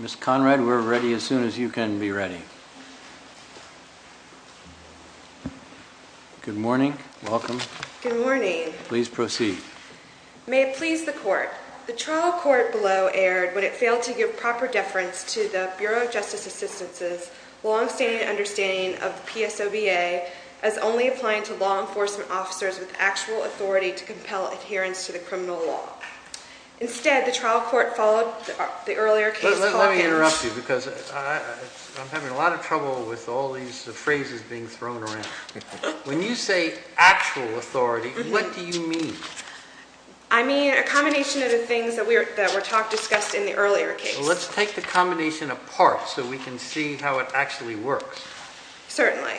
Miss Conrad, we're ready as soon as you can be ready. Good morning. Welcome. Good morning. Please proceed. May it please the court. The trial court below aired when it failed to give proper deference to the Bureau of Justice Assistance's longstanding understanding of the PSOBA as only applying to law enforcement officers with actual authority to compel adherence to the criminal law. Instead, the trial court followed the earlier case. Let me interrupt you because I'm having a lot of trouble with all these phrases being thrown around. When you say actual authority, what do you mean? I mean a combination of the things that were discussed in the earlier case. Let's take the combination apart so we can see how it actually works. Certainly.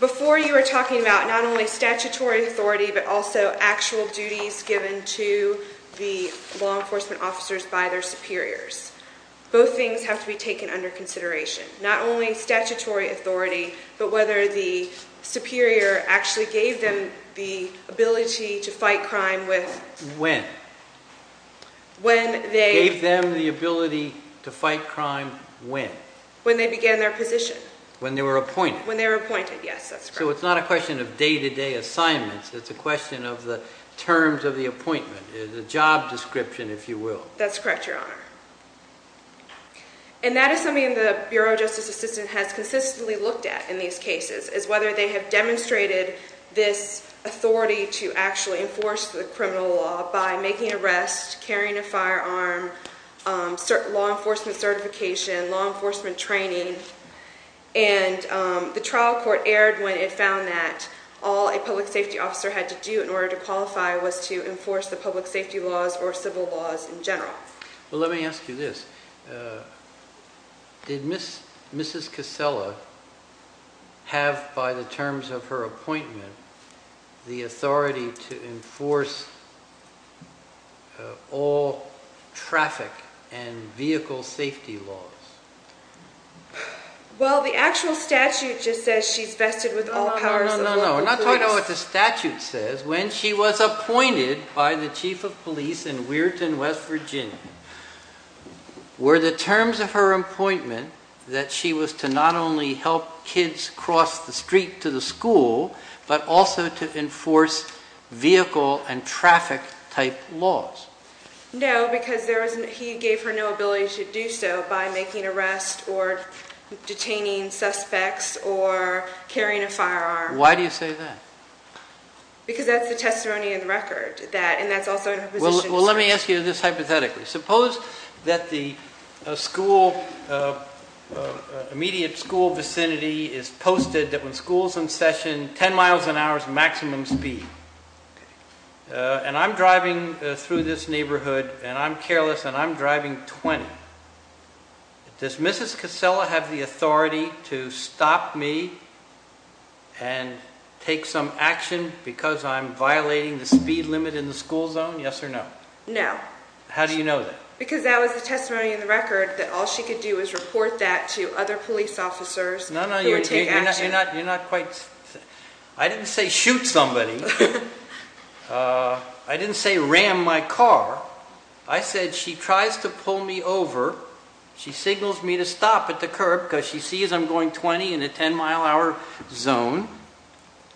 Before you were talking about not only statutory authority, but also actual duties given to the law enforcement officers by their superiors. Both things have to be taken under consideration. Not only statutory authority, but whether the superior actually gave them the ability to fight crime with... When? Gave them the ability to fight crime when? When they began their position. When they were appointed. When they were appointed. Yes, that's correct. So it's not a question of day-to-day assignments. It's a question of the terms of the appointment, the job description, if you will. That's correct, Your Honor. And that is something the Bureau of Justice Assistance has consistently looked at in these cases, is whether they have been making arrests, carrying a firearm, law enforcement certification, law enforcement training. And the trial court erred when it found that all a public safety officer had to do in order to qualify was to enforce the public safety laws or civil laws in general. Well, let me ask you this. Did Mrs. Casella have by the terms of her appointment all traffic and vehicle safety laws? Well, the actual statute just says she's vested with all powers of law. No, no, no. I'm not talking about what the statute says. When she was appointed by the chief of police in Weirton, West Virginia, were the terms of her appointment that she was to not only help kids cross the street to the school, but also to enforce vehicle and traffic type laws? No, because he gave her no ability to do so by making arrests or detaining suspects or carrying a firearm. Why do you say that? Because that's the testimony in the record. Well, let me ask you this hypothetically. Suppose that the school, immediate school vicinity is posted that when school's in session, 10 miles an hour is maximum speed. And I'm driving through this neighborhood and I'm careless and I'm driving 20. Does Mrs. Casella have the authority to stop me and take some action because I'm violating the speed limit in the school zone? Yes or no? No. How do you know that? Because that was the testimony in the record that all she could do is report that to other police officers who would take action. I didn't say shoot somebody. I didn't say ram my car. I said she tries to pull me over. She signals me to stop at the curb because she sees I'm going 20 in a 10 mile hour zone.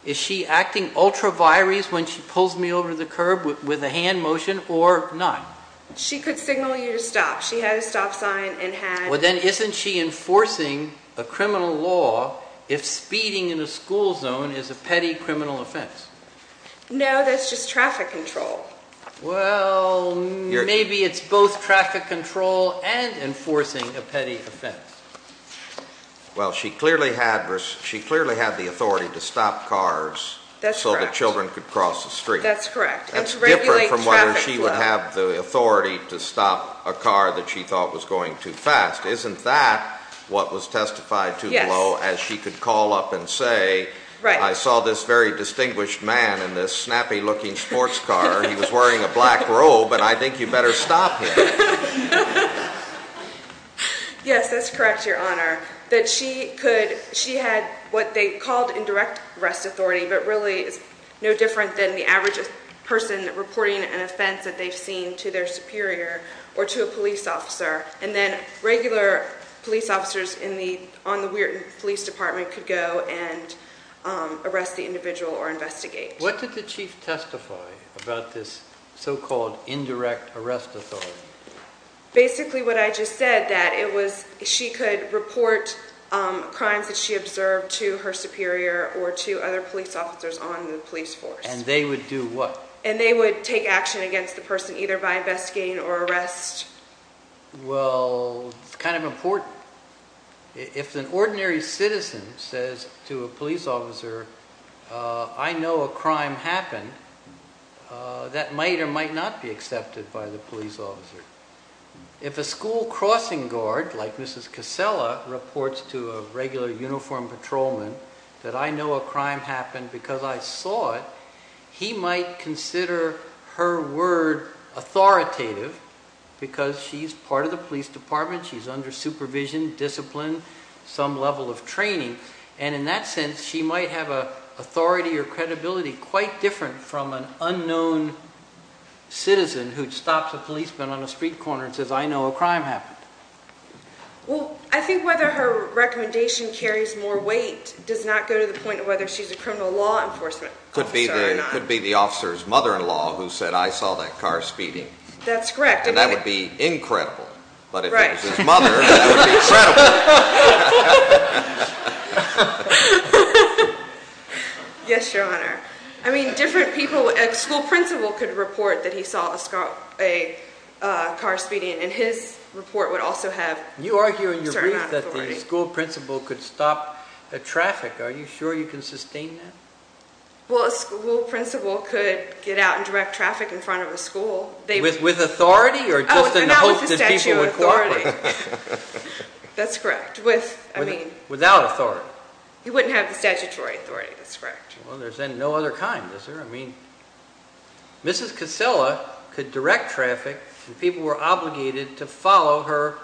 Is she acting ultra virys when she pulls me over the curb with a hand motion or not? She could signal you to stop. She had a stop sign and had... Well, then isn't she enforcing a criminal law if speeding in a school zone is a petty criminal offense? No, that's just traffic control. Well, maybe it's both traffic control and enforcing a petty offense. Well, she clearly had the authority to stop cars so that children could cross the street. That's correct. That's different from whether she would have the authority to stop a car that she thought was going too fast. Isn't that what was testified to below as she could call up and say, I saw this very distinguished man in this snappy looking sports car. He was wearing a black Yes, that's correct, Your Honor. That she could, she had what they called indirect arrest authority, but really is no different than the average person reporting an offense that they've seen to their superior or to a police officer. And then regular police officers on the police department could go and arrest the individual or investigate. What did the chief testify about this so-called indirect arrest authority? Basically what I just said that it was she could report crimes that she observed to her superior or to other police officers on the police force. And they would do what? And they would take action against the person either by investigating or arrest. Well, it's kind of important. If an ordinary citizen says to a police officer, I know a crime happened that might or might not be accepted by the police officer. If a school crossing guard like Mrs. Casella reports to a regular uniformed patrolman that I know a crime happened because I saw it, he might consider her word authoritative because she's part of the police department. She's under supervision, discipline, some level of training. And in that sense, she might have authority or credibility quite different from an unknown citizen who stops a policeman on a street corner and says, I know a crime happened. I think whether her recommendation carries more weight does not go to the point of whether she's a criminal law enforcement officer or not. Could be the officer's mother-in-law who said, I saw that car speeding. That's correct. And that would be incredible. But if it was his mother, that would be incredible. Yes, your honor. I mean, different people, a school principal could report that he saw a car speeding and his report would also have certain amount of authority. You argue in your brief that the school principal could stop the traffic. Are you sure you can sustain that? Well, a school principal could get out and direct traffic in front of a school. With authority or just in the hope that people would cooperate? That's correct. Without authority. He wouldn't have the statutory authority, that's correct. Well, there's no other kind, is there? I mean, Mrs. Casella could direct traffic and people were obligated to follow her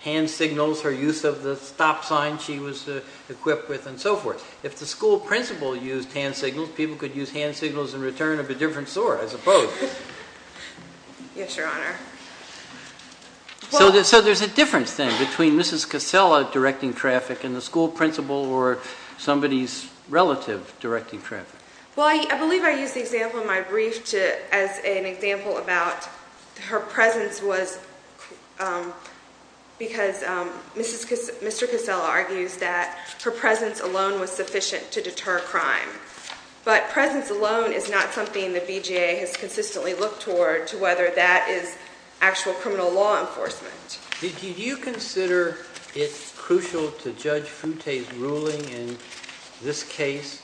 hand signals, her use of the stop sign she was equipped with and so forth. If the school principal used hand signals, people could use hand signals in return of a different sort, I suppose. Yes, your honor. So there's a difference then between Mrs. Casella directing traffic and the school principal or somebody's relative directing traffic? Well, I believe I used the example in my brief as an example about her presence was because Mr. Casella argues that her presence alone was sufficient to deter crime. But presence alone is not something the BJA has consistently looked toward to whether that is actual criminal law enforcement. Did you consider it crucial to Judge Futte's ruling in this case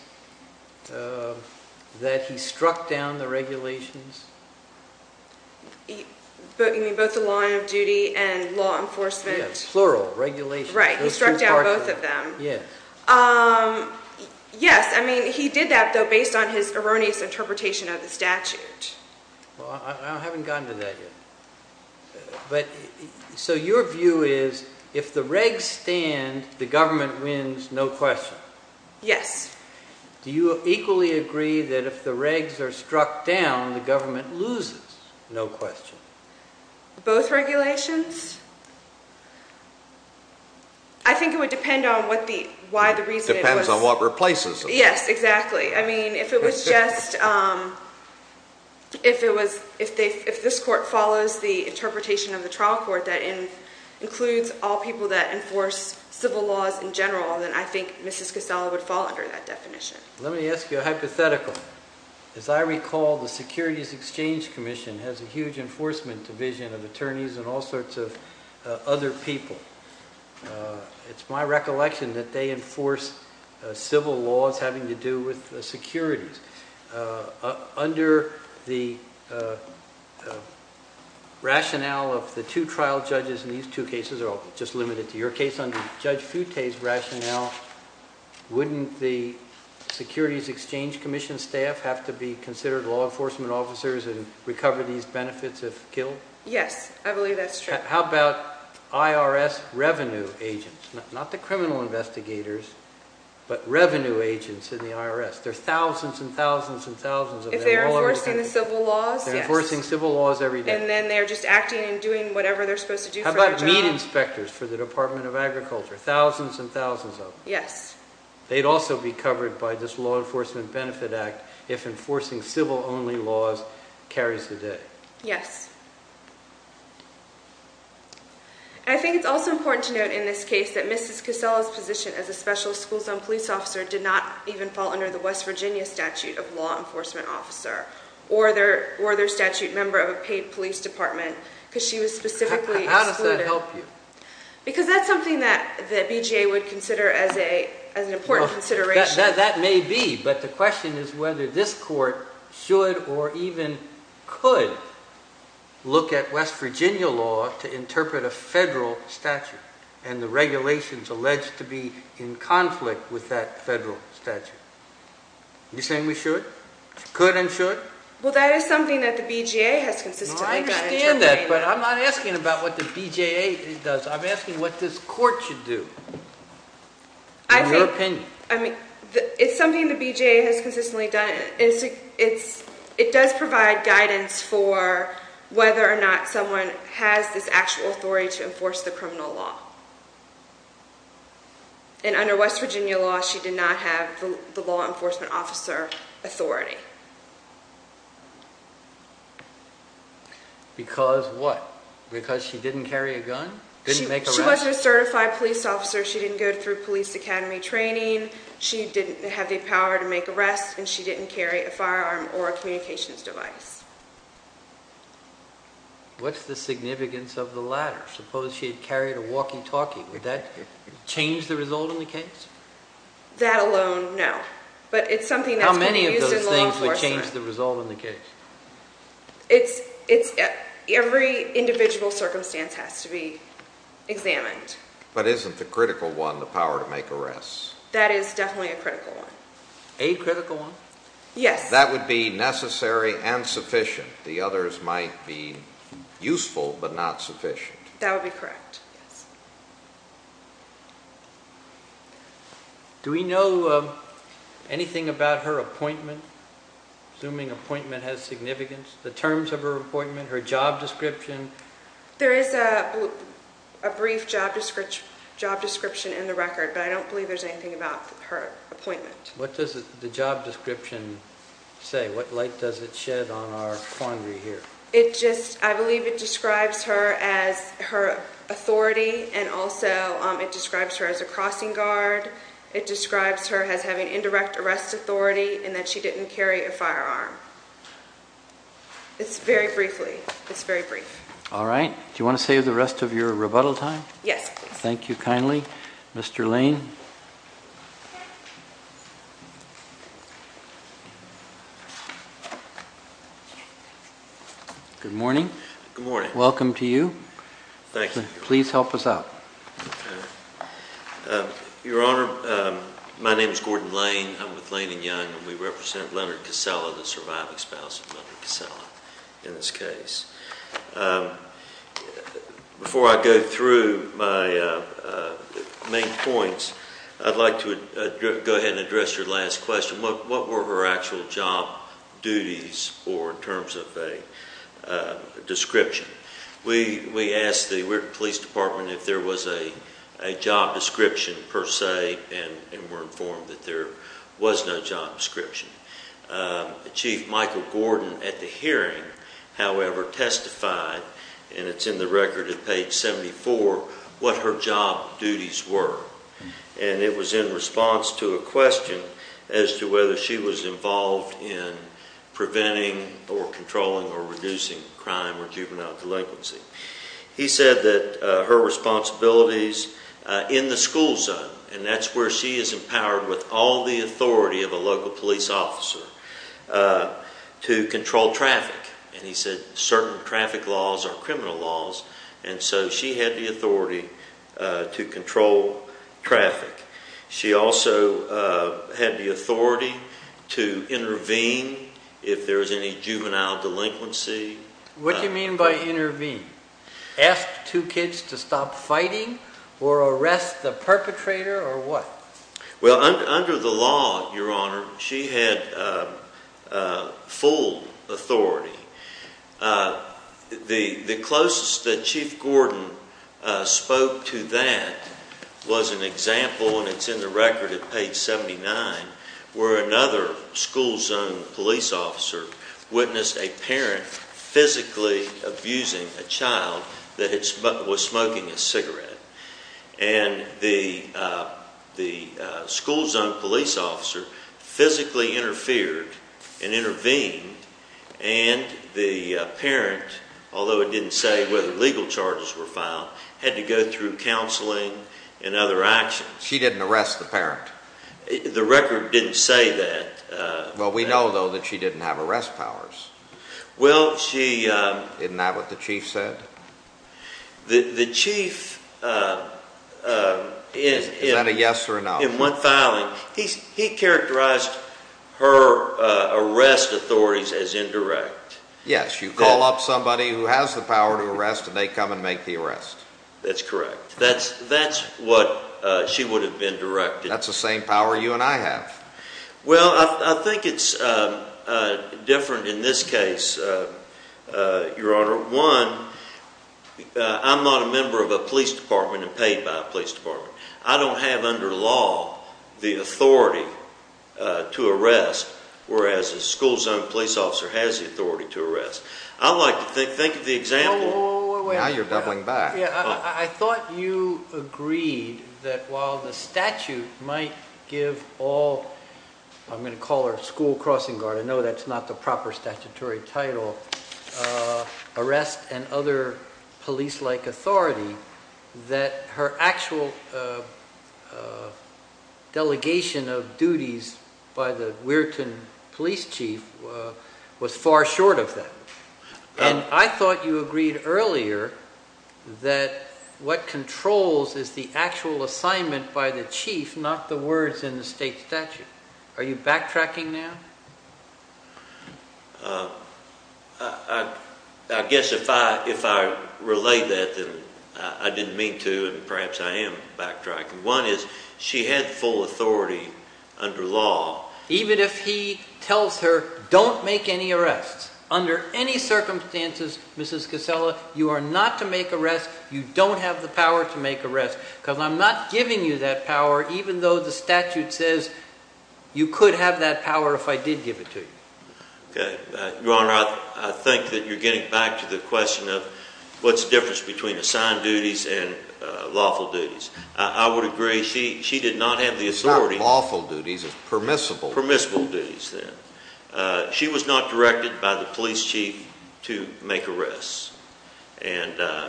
that he struck down the regulations? You mean both the law of duty and law enforcement? Yes, plural, regulations. Right, he struck down both of them. Yes. Yes, I mean, he did that though based on his erroneous interpretation of the statute. Well, I haven't gotten to that yet. So your view is if the regs stand, the government wins, no question? Yes. Do you equally agree that if the regs are struck down, the government loses, no question? Both regulations? I think it would depend on what the, why the reason. Depends on what replaces them. Yes, exactly. I mean, if it was just, if it was, if this court follows the interpretation of the trial court that includes all people that enforce civil laws in general, then I think Mrs. Casella would fall under that definition. Let me ask you a hypothetical. As I recall, the Securities Exchange Commission has a huge enforcement division of attorneys and all sorts of other people. It's my recollection that they enforce civil laws having to do with securities. Under the rationale of the two trial judges in these two cases, or just limited to your case, under Judge Futte's rationale, wouldn't the Securities Exchange Commission staff have to be considered law enforcement officers and recover these benefits if killed? Yes, I believe that's true. How about IRS revenue agents? Not the criminal investigators, but revenue agents in the IRS. There are thousands and thousands and thousands of them all over the country. If they're enforcing the civil laws? They're enforcing civil laws every day. And then they're just acting and doing whatever they're supposed to do for each other. How about meat inspectors for the Department of Agriculture? Thousands and thousands of them. Yes. They'd also be covered by this Law Enforcement Benefit Act if enforcing civil-only laws carries the day. Yes. I think it's also important to note in this case that Mrs. Casella's position as a special school zone police officer did not even fall under the West Virginia statute of law enforcement officer, or their statute member of a paid police department, because she was specifically excluded. How does that help you? Because that's something that BJA would consider as an important consideration. That may be, but the question is whether this court should or even could look at West Virginia law to interpret a federal statute and the regulations alleged to be in conflict with that federal statute. Are you saying we should? Could and should? Well, that is something that the BJA has consistently been interpreting. I understand that, but I'm not asking about what the BJA does. I'm asking what this court should do, in your opinion. It's something that BJA has consistently done. It does provide guidance for whether or not someone has this actual authority to enforce the criminal law. And under West Virginia law, she did not have the law enforcement officer authority. Because what? Because she didn't carry a gun? She was a certified police officer. She didn't go through police academy training. She didn't have the power to make arrests, and she didn't carry a firearm or a communications device. What's the significance of the latter? Suppose she had carried a walkie-talkie. Would that change the result in the case? That alone, no. But it's something that's been used in the law enforcement. How many of those things would change the result in the case? Every individual circumstance has to be examined. But isn't the critical one the power to make arrests? That is definitely a critical one. A critical one? Yes. That would be necessary and sufficient. The others might be useful, but not sufficient. That would be correct. Do we know anything about her appointment? Assuming appointment has significance, the terms of her appointment, her job description? There is a brief job description in the record, but I don't believe there's anything about her appointment. What does the job description say? What light does it shed on our quandary here? I believe it describes her as her authority, and also it describes her as a crossing guard. It describes her as having indirect arrest authority, and that she didn't carry a firearm. It's very brief. Do you want to save the rest of your rebuttal time? Yes. Thank you kindly. Good morning. Good morning. Welcome to you. Thank you. Please help us out. Your Honor, my name is Gordon Lane. I'm with Lane & Young, and we represent Leonard Casella, the surviving spouse of Leonard Casella in this case. Before I go through my main points, I'd like to go ahead and address your last question. What were her actual job duties in terms of a description? We asked the police department if there was a job description per se, and were informed that there was no job description. Chief Michael Gordon at the hearing, however, testified, and it's in the record at page 74, what her job duties were. It was in response to a question as to whether she was involved in preventing or controlling or reducing crime or juvenile delinquency. He said that her responsibilities in the school zone, and that's where she is empowered with all the authority of a local police officer to control traffic. And he said certain traffic laws are criminal laws, and so she had the authority to control traffic. She also had the authority to intervene if there was any juvenile delinquency. What do you mean by intervene? Ask two kids to stop fighting or arrest the perpetrator or what? Well, under the law, Your Honor, she had full authority. The closest that Chief Gordon spoke to that was an example, and it's in the record at page 79, where another school zone police officer witnessed a parent physically abusing a child that the school zone police officer physically interfered and intervened and the parent, although it didn't say whether legal charges were filed, had to go through counseling and other actions. She didn't arrest the parent? The record didn't say that. Well, we know, though, that she didn't have arrest powers. Isn't that what the chief said? The chief... Is that a yes or a no? In one filing, he characterized her arrest authorities as indirect. Yes, you call up somebody who has the power to arrest and they come and make the arrest. That's correct. That's what she would have been directed. That's the same power you and I have. Well, I think it's different in this case, Your Honor. One, I'm not a member of a police department and paid by a police department. I don't have under law the authority to arrest, whereas a school zone police officer has the authority to arrest. I like to think of the example... Now you're doubling back. I thought you agreed that while the statute might give all... I'm going to call her a school crossing guard. I know that's not the proper statutory title. Arrest and other police-like authority, that her actual delegation of duties by the Weirton police chief was far short of that. I thought you agreed earlier that what controls is the actual assignment by the chief, not the words in the state statute. Are you backtracking now? I guess if I relay that, then I didn't mean to and perhaps I am backtracking. One is she had full authority under law. Even if he tells her don't make any arrests under any circumstances, Mrs. Casella, you are not to make arrests. You don't have the power to make arrests because I'm not giving you that power even though the statute says you could have that power if I did give it to you. Your Honor, I think that you're getting back to the question of what's the difference between assigned duties and lawful duties. I would agree she did not have the authority. It's not lawful duties, it's permissible. Permissible duties then. She was not directed by the police chief to make arrests.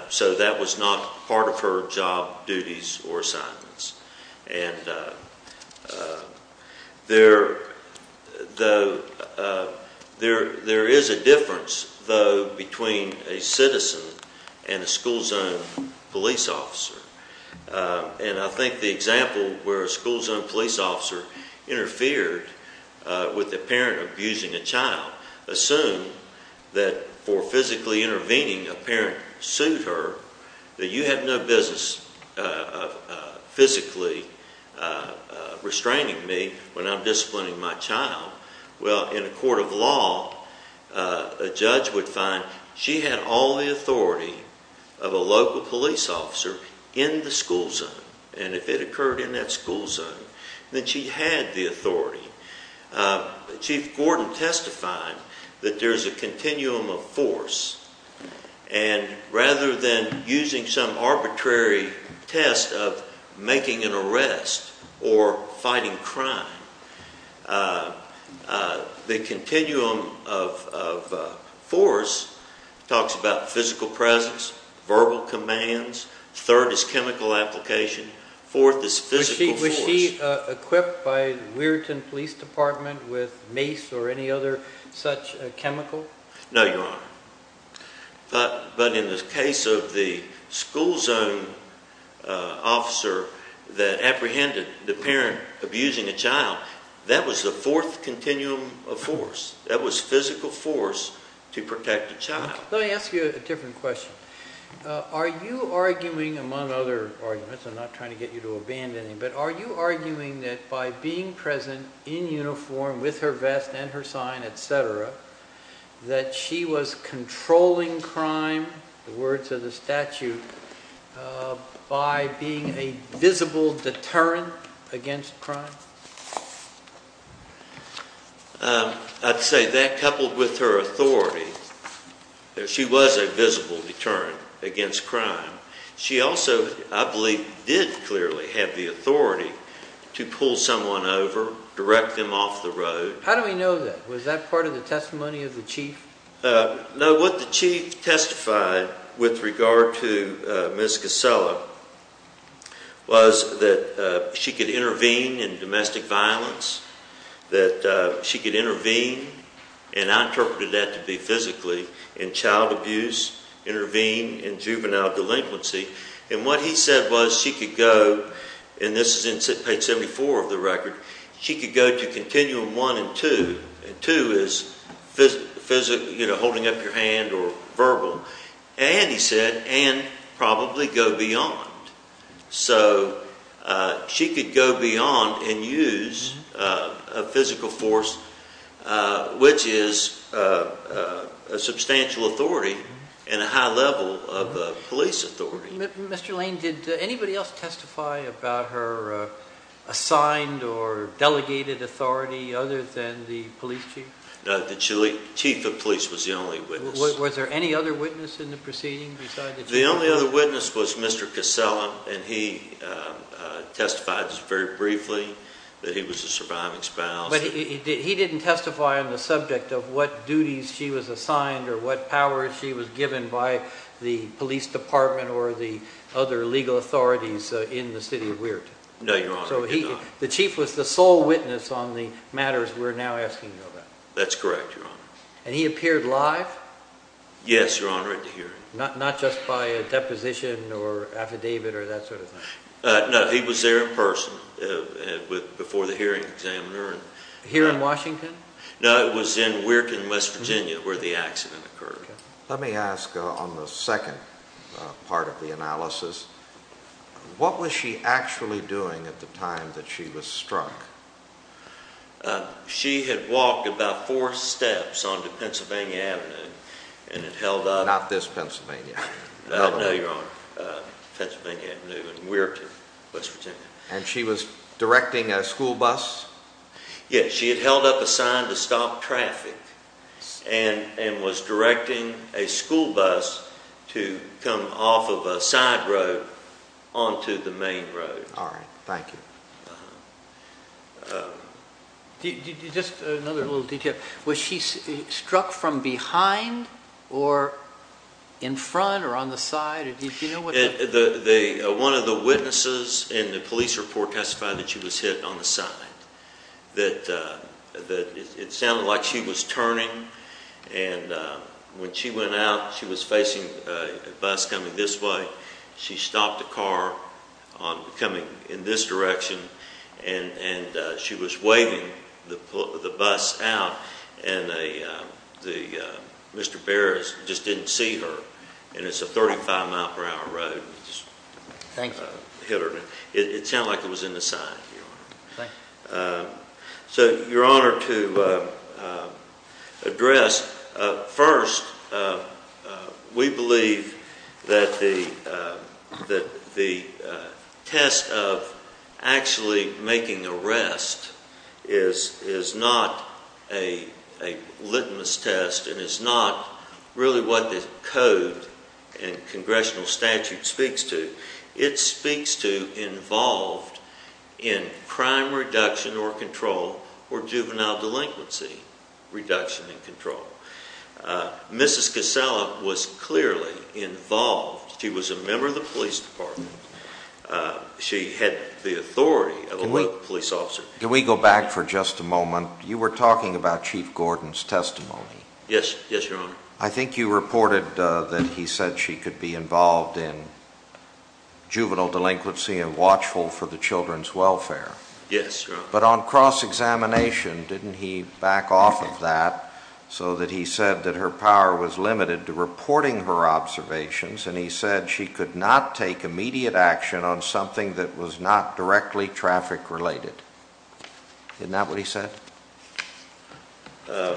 So that was not part of her job duties or assignments. There is a difference though between a citizen and I think the example where a school zone police officer interfered with a parent abusing a child. Assume that for physically intervening a parent sued her that you have no business physically restraining me when I'm disciplining my child. Well, in a court of law, a judge would find she had all the authority of a local police officer in the school zone. And if it occurred in that school zone, then she had the authority. Chief Gordon testified that there's a continuum of force and rather than using some arbitrary test of making an arrest or fighting crime, the continuum of force talks about physical presence, verbal commands, third is chemical application, fourth is physical force. Was she equipped by Weirton Police Department with mace or any other such chemical? No, Your Honor. But in the case of the school zone officer that apprehended the parent abusing a child, that was the fourth continuum of force. That was physical force to protect a child. Let me ask you a different question. Are you arguing, among other arguments, I'm not trying to get you to abandon him, but are you arguing that by being present in uniform with her vest and her sign, etc., that she was controlling crime, the words of the statute, by being a visible deterrent against crime? I'd say that, coupled with her authority, she was a visible deterrent against crime. She also, I believe, did clearly have the authority to pull someone over, direct them off the road. How do we know that? Was that part of the testimony of the chief? No, what the chief testified with regard to Ms. Casella was that she could intervene in domestic violence, that she could intervene, and I interpreted that to be physically, in child abuse, intervene in juvenile delinquency. And what he said was she could go, and this is in page 74 of the record, she could go to continuum one and two, and two is holding up your hand or verbal, and he said, and probably go beyond. So she could go beyond and use a physical force which is a substantial authority and a high level of police authority. Mr. Lane, did anybody else testify about her assigned or delegated authority other than the police chief? No, the chief of police was the only witness. Was there any other witness in the proceeding? The only other witness was Mr. Casella, and he testified very briefly that he was a surviving spouse. But he didn't testify on the subject of what duties she was assigned or what power she was given by the police department or the other legal authorities in the city of Weirton? No, Your Honor, he did not. So the chief was the sole witness on the matters we're now asking you about? That's correct, Your Honor. And he appeared live? Yes, Your Honor, at the hearing. Not just by a deposition or affidavit or that sort of thing? No, he was there in person before the hearing examiner. Here in Washington? No, it was in Weirton, West Virginia where the accident occurred. Let me ask on the second part of the analysis, what was she actually doing at the time that she was struck? She had walked about four steps onto Pennsylvania Avenue and held up... Not this Pennsylvania. No, Your Honor, Pennsylvania Avenue in Weirton, West Virginia. And she was directing a school bus? Yes, she had held up a sign to stop traffic and was directing a school bus to come off of a side road onto the main road. Alright, thank you. Just another little detail, was she struck from behind or in front or on the side? One of the witnesses in the police report testified that she was hit on the side. It sounded like she was turning and when she went out she was facing a bus coming this way. She stopped the car coming in this direction and she was waving the bus out and Mr. Barrett just didn't see her and it's a 35 mile per hour road. Thank you. It sounded like it was in the side. So, Your Honor, to address... First, we believe that the test of actually making arrest is not a litmus test and is not really what the code and congressional statute speaks to. It speaks to involved in crime reduction or control or juvenile delinquency reduction and control. Mrs. Casella was clearly involved. She was a member of the police department. She had the authority of a police officer. Can we go back for just a moment? You were talking about Chief Gordon's testimony. Yes, Your Honor. I think you reported that he said she could be involved in juvenile delinquency and watchful for the children's welfare. Yes, Your Honor. But on cross-examination, didn't he back off of that so that he said that her power was limited to reporting her observations and he said she could not take immediate action on something that was not directly traffic related. Isn't that what he said? Well,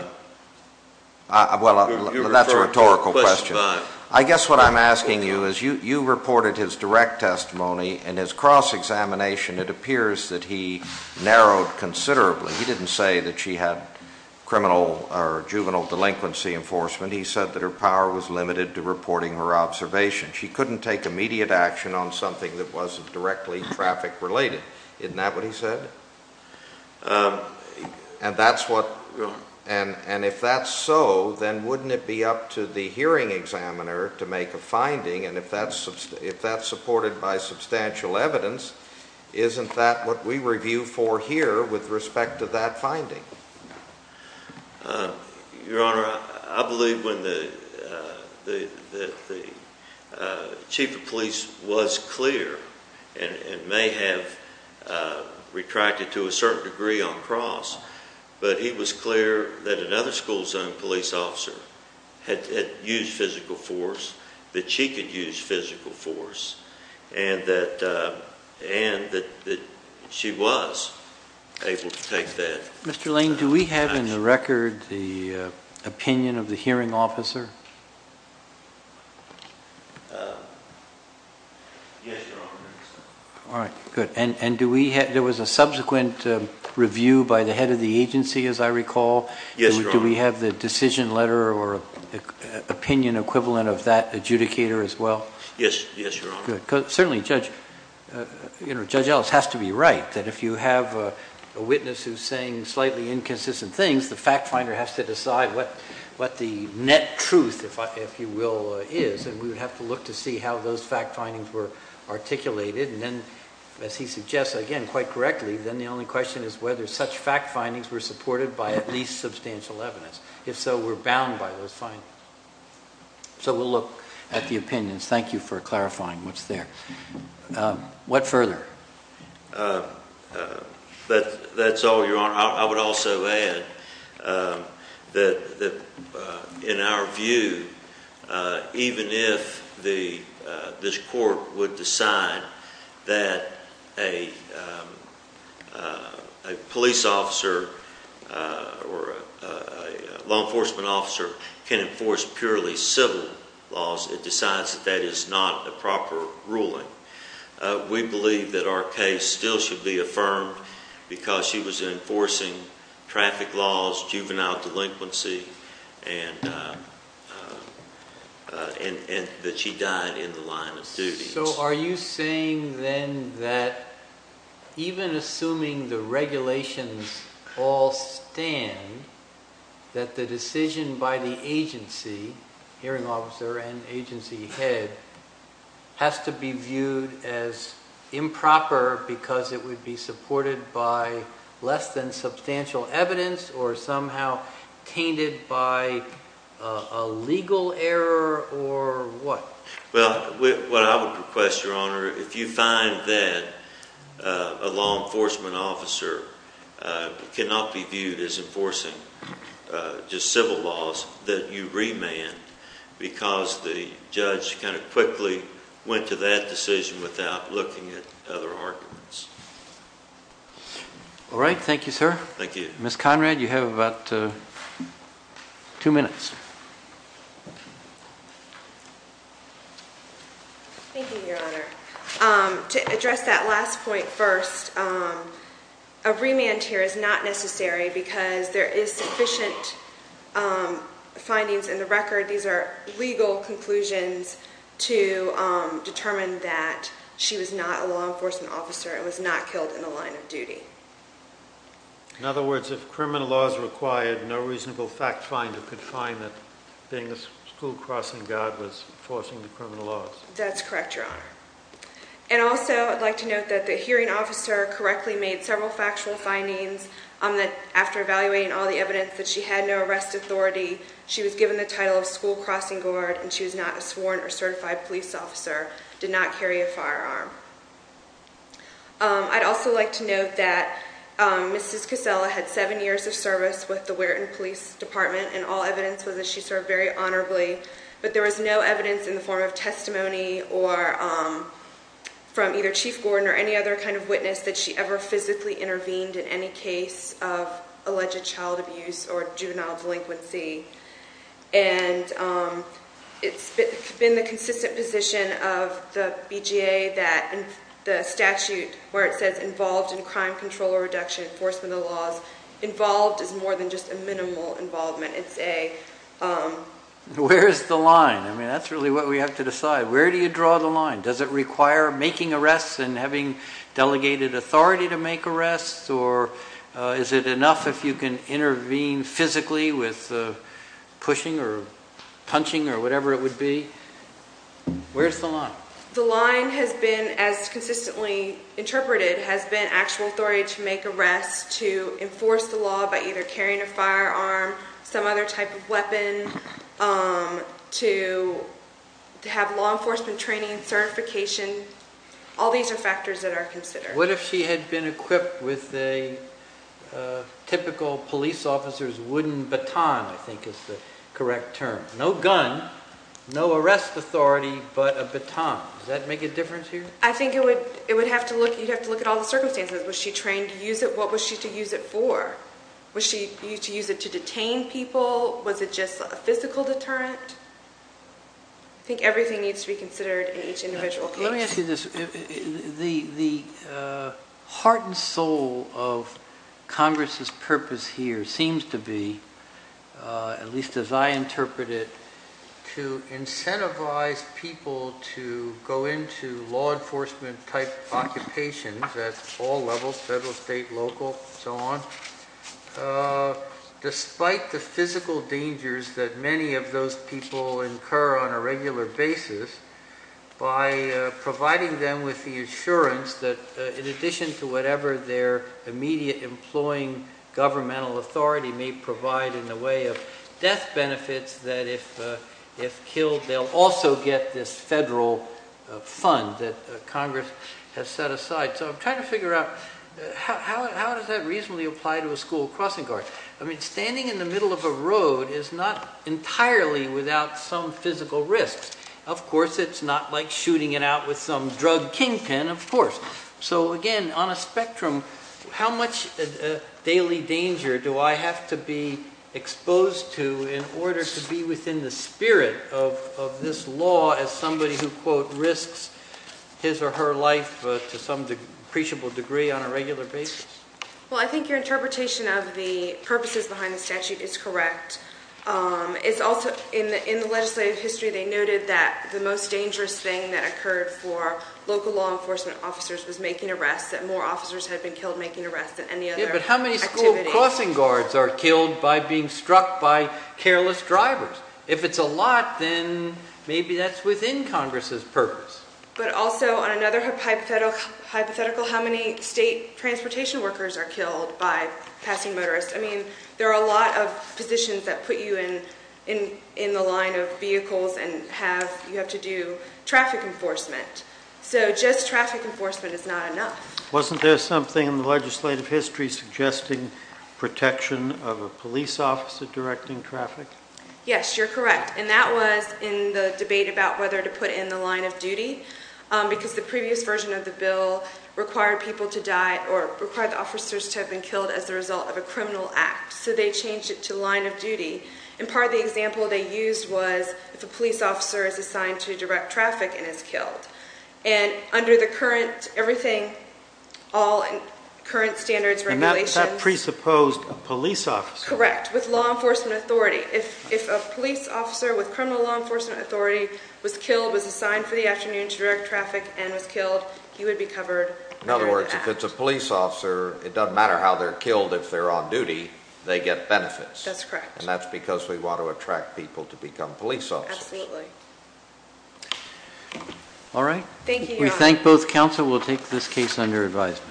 that's a rhetorical question. I guess what I'm asking you is you reported his direct testimony and his cross-examination, it appears that he narrowed considerably. He didn't say that she had criminal or juvenile delinquency enforcement. He said that her power was limited to reporting her observations. She couldn't take immediate action on something that wasn't directly traffic related. Isn't that what he said? And if that's so, then wouldn't it be up to the hearing examiner to make a finding? And if that's supported by substantial evidence, isn't that what we review for here with respect to that finding? Your Honor, I believe when the Chief of Police was clear and may have retracted to a certain degree on cross, but he was clear that another school zone police officer had used physical force, that she could use physical force, and that she was able to take that action. Mr. Lane, do we have in the record the opinion of the hearing officer? Yes, Your Honor. There was a subsequent review by the head of the agency, as I recall. Do we have the decision letter or opinion equivalent of that adjudicator as well? Yes, Your Honor. Certainly Judge Ellis has to be the one to decide what the net truth, if you will, is. And we would have to look to see how those fact findings were articulated. And then, as he suggests, again, quite correctly, then the only question is whether such fact findings were supported by at least substantial evidence. If so, we're bound by those findings. So we'll look at the opinions. Thank you for clarifying what's there. What further? That's all, Your Honor. I would also add that in our view, even if this court would decide that a police officer or a law enforcement officer can enforce purely civil laws, it decides that that is not a proper ruling. We believe that our case still should be affirmed because she was enforcing traffic laws, juvenile delinquency, and that she died in the line of duty. So are you saying then that even assuming the regulations all stand, that the decision by the agency, hearing officer and agency head, has to be viewed as improper because it would be supported by less than substantial evidence or somehow tainted by a legal error or what? Well, what I would request, Your Honor, if you find that a law enforcement officer cannot be viewed as enforcing just civil laws, that you remand because the judge kind of quickly went to that decision without looking at other arguments. All right. Thank you, sir. Thank you. Ms. Conrad, you have about two minutes. Thank you, Your Honor. To address that last point first, a remand here is not necessary because there is sufficient findings in the record. These are legal conclusions to determine that she was not a law enforcement officer and was not killed in the line of duty. In other words, if criminal laws required, no reasonable fact finder could find that being a school crossing guard was enforcing the criminal laws. That's correct, Your Honor. And also, I'd like to note that the hearing officer correctly made several factual findings that after evaluating all the evidence that she had no arrest authority, she was given the title of school crossing guard and she was not a sworn or certified police officer, did not carry a firearm. I'd also like to note that Mrs. Casella had seven years of service with the Weirton Police Department and all evidence was that she served very honorably, but there was no evidence in the form of testimony from either Chief Gordon or any other kind of witness that she ever physically intervened in any case of alleged child abuse or juvenile delinquency. And it's been the consistent position of the BGA that the statute where it says involved in crime control or reduction enforcement of the laws, involved is more than just a minimal involvement. It's a... Where is the line? I mean, that's really what we have to decide. Where do you draw the line? Does it require making arrests and having delegated authority to make arrests or is it enough if you can intervene physically with pushing or punching or whatever it would be? Where's the line? The line has been, as consistently interpreted, has been actual authority to make arrests, to enforce the law by either carrying a firearm, some other type of weapon, to have law enforcement training and certification. All these are factors that are considered. What if she had been equipped with a typical police officer's wooden baton, I think is the correct term. No gun, no arrest authority, but a baton. Does that make a difference here? I think it would have to look at all the circumstances. Was she trained to use it? What was she to use it for? Was she to use it to detain people? Was it just a physical deterrent? I think everything needs to be considered in each individual case. Let me ask you this. The heart and soul of Congress's purpose here seems to be, at least as I interpret it, to incentivize people to go into law enforcement type occupations at all levels, federal, state, local, and so on, despite the physical dangers that many of those people incur on a regular basis, by providing them with the assurance that, in addition to whatever their immediate employing governmental authority may provide in the way of death benefits, that if killed they'll also get this federal fund that Congress has set aside. So I'm trying to figure out how does that reasonably apply to a school crossing guard? I mean, standing in the middle of a road is not entirely without some physical risks. Of course, it's not like shooting it out with some drug kingpin, of course. So again, on a spectrum, how much daily danger do I have to be exposed to in order to be within the spirit of this law as somebody who risks his or her life to some appreciable degree on a regular basis? Well, I think your interpretation of the purposes behind the statute is correct. In the legislative history they noted that the most dangerous thing that occurred for local law enforcement officers was making arrests, that more officers had been killed making careless drivers. If it's a lot, then maybe that's within Congress' purpose. But also, on another hypothetical, how many state transportation workers are killed by passing motorists? I mean, there are a lot of positions that put you in the line of vehicles and you have to do traffic enforcement. So just traffic enforcement is not enough. Wasn't there something in the legislative history suggesting protection of a police officer directing traffic? Yes, you're correct. And that was in the debate about whether to put in the line of duty, because the previous version of the bill required people to die or required the officers to have been killed as a result of a criminal act. So they changed it to line of duty. And part of the example they used was if a police officer is killed. And under the current, everything, all current standards, regulations. And that presupposed a police officer. Correct. With law enforcement authority. If a police officer with criminal law enforcement authority was killed, was assigned for the afternoon to direct traffic and was killed, he would be covered. In other words, if it's a police officer, it doesn't matter how they're killed, if they're on duty, they get benefits. That's correct. And that's because we want to attract people to become police officers. Absolutely. Alright. Thank you, Your Honor. We thank both counsel. We'll take this case under advisement.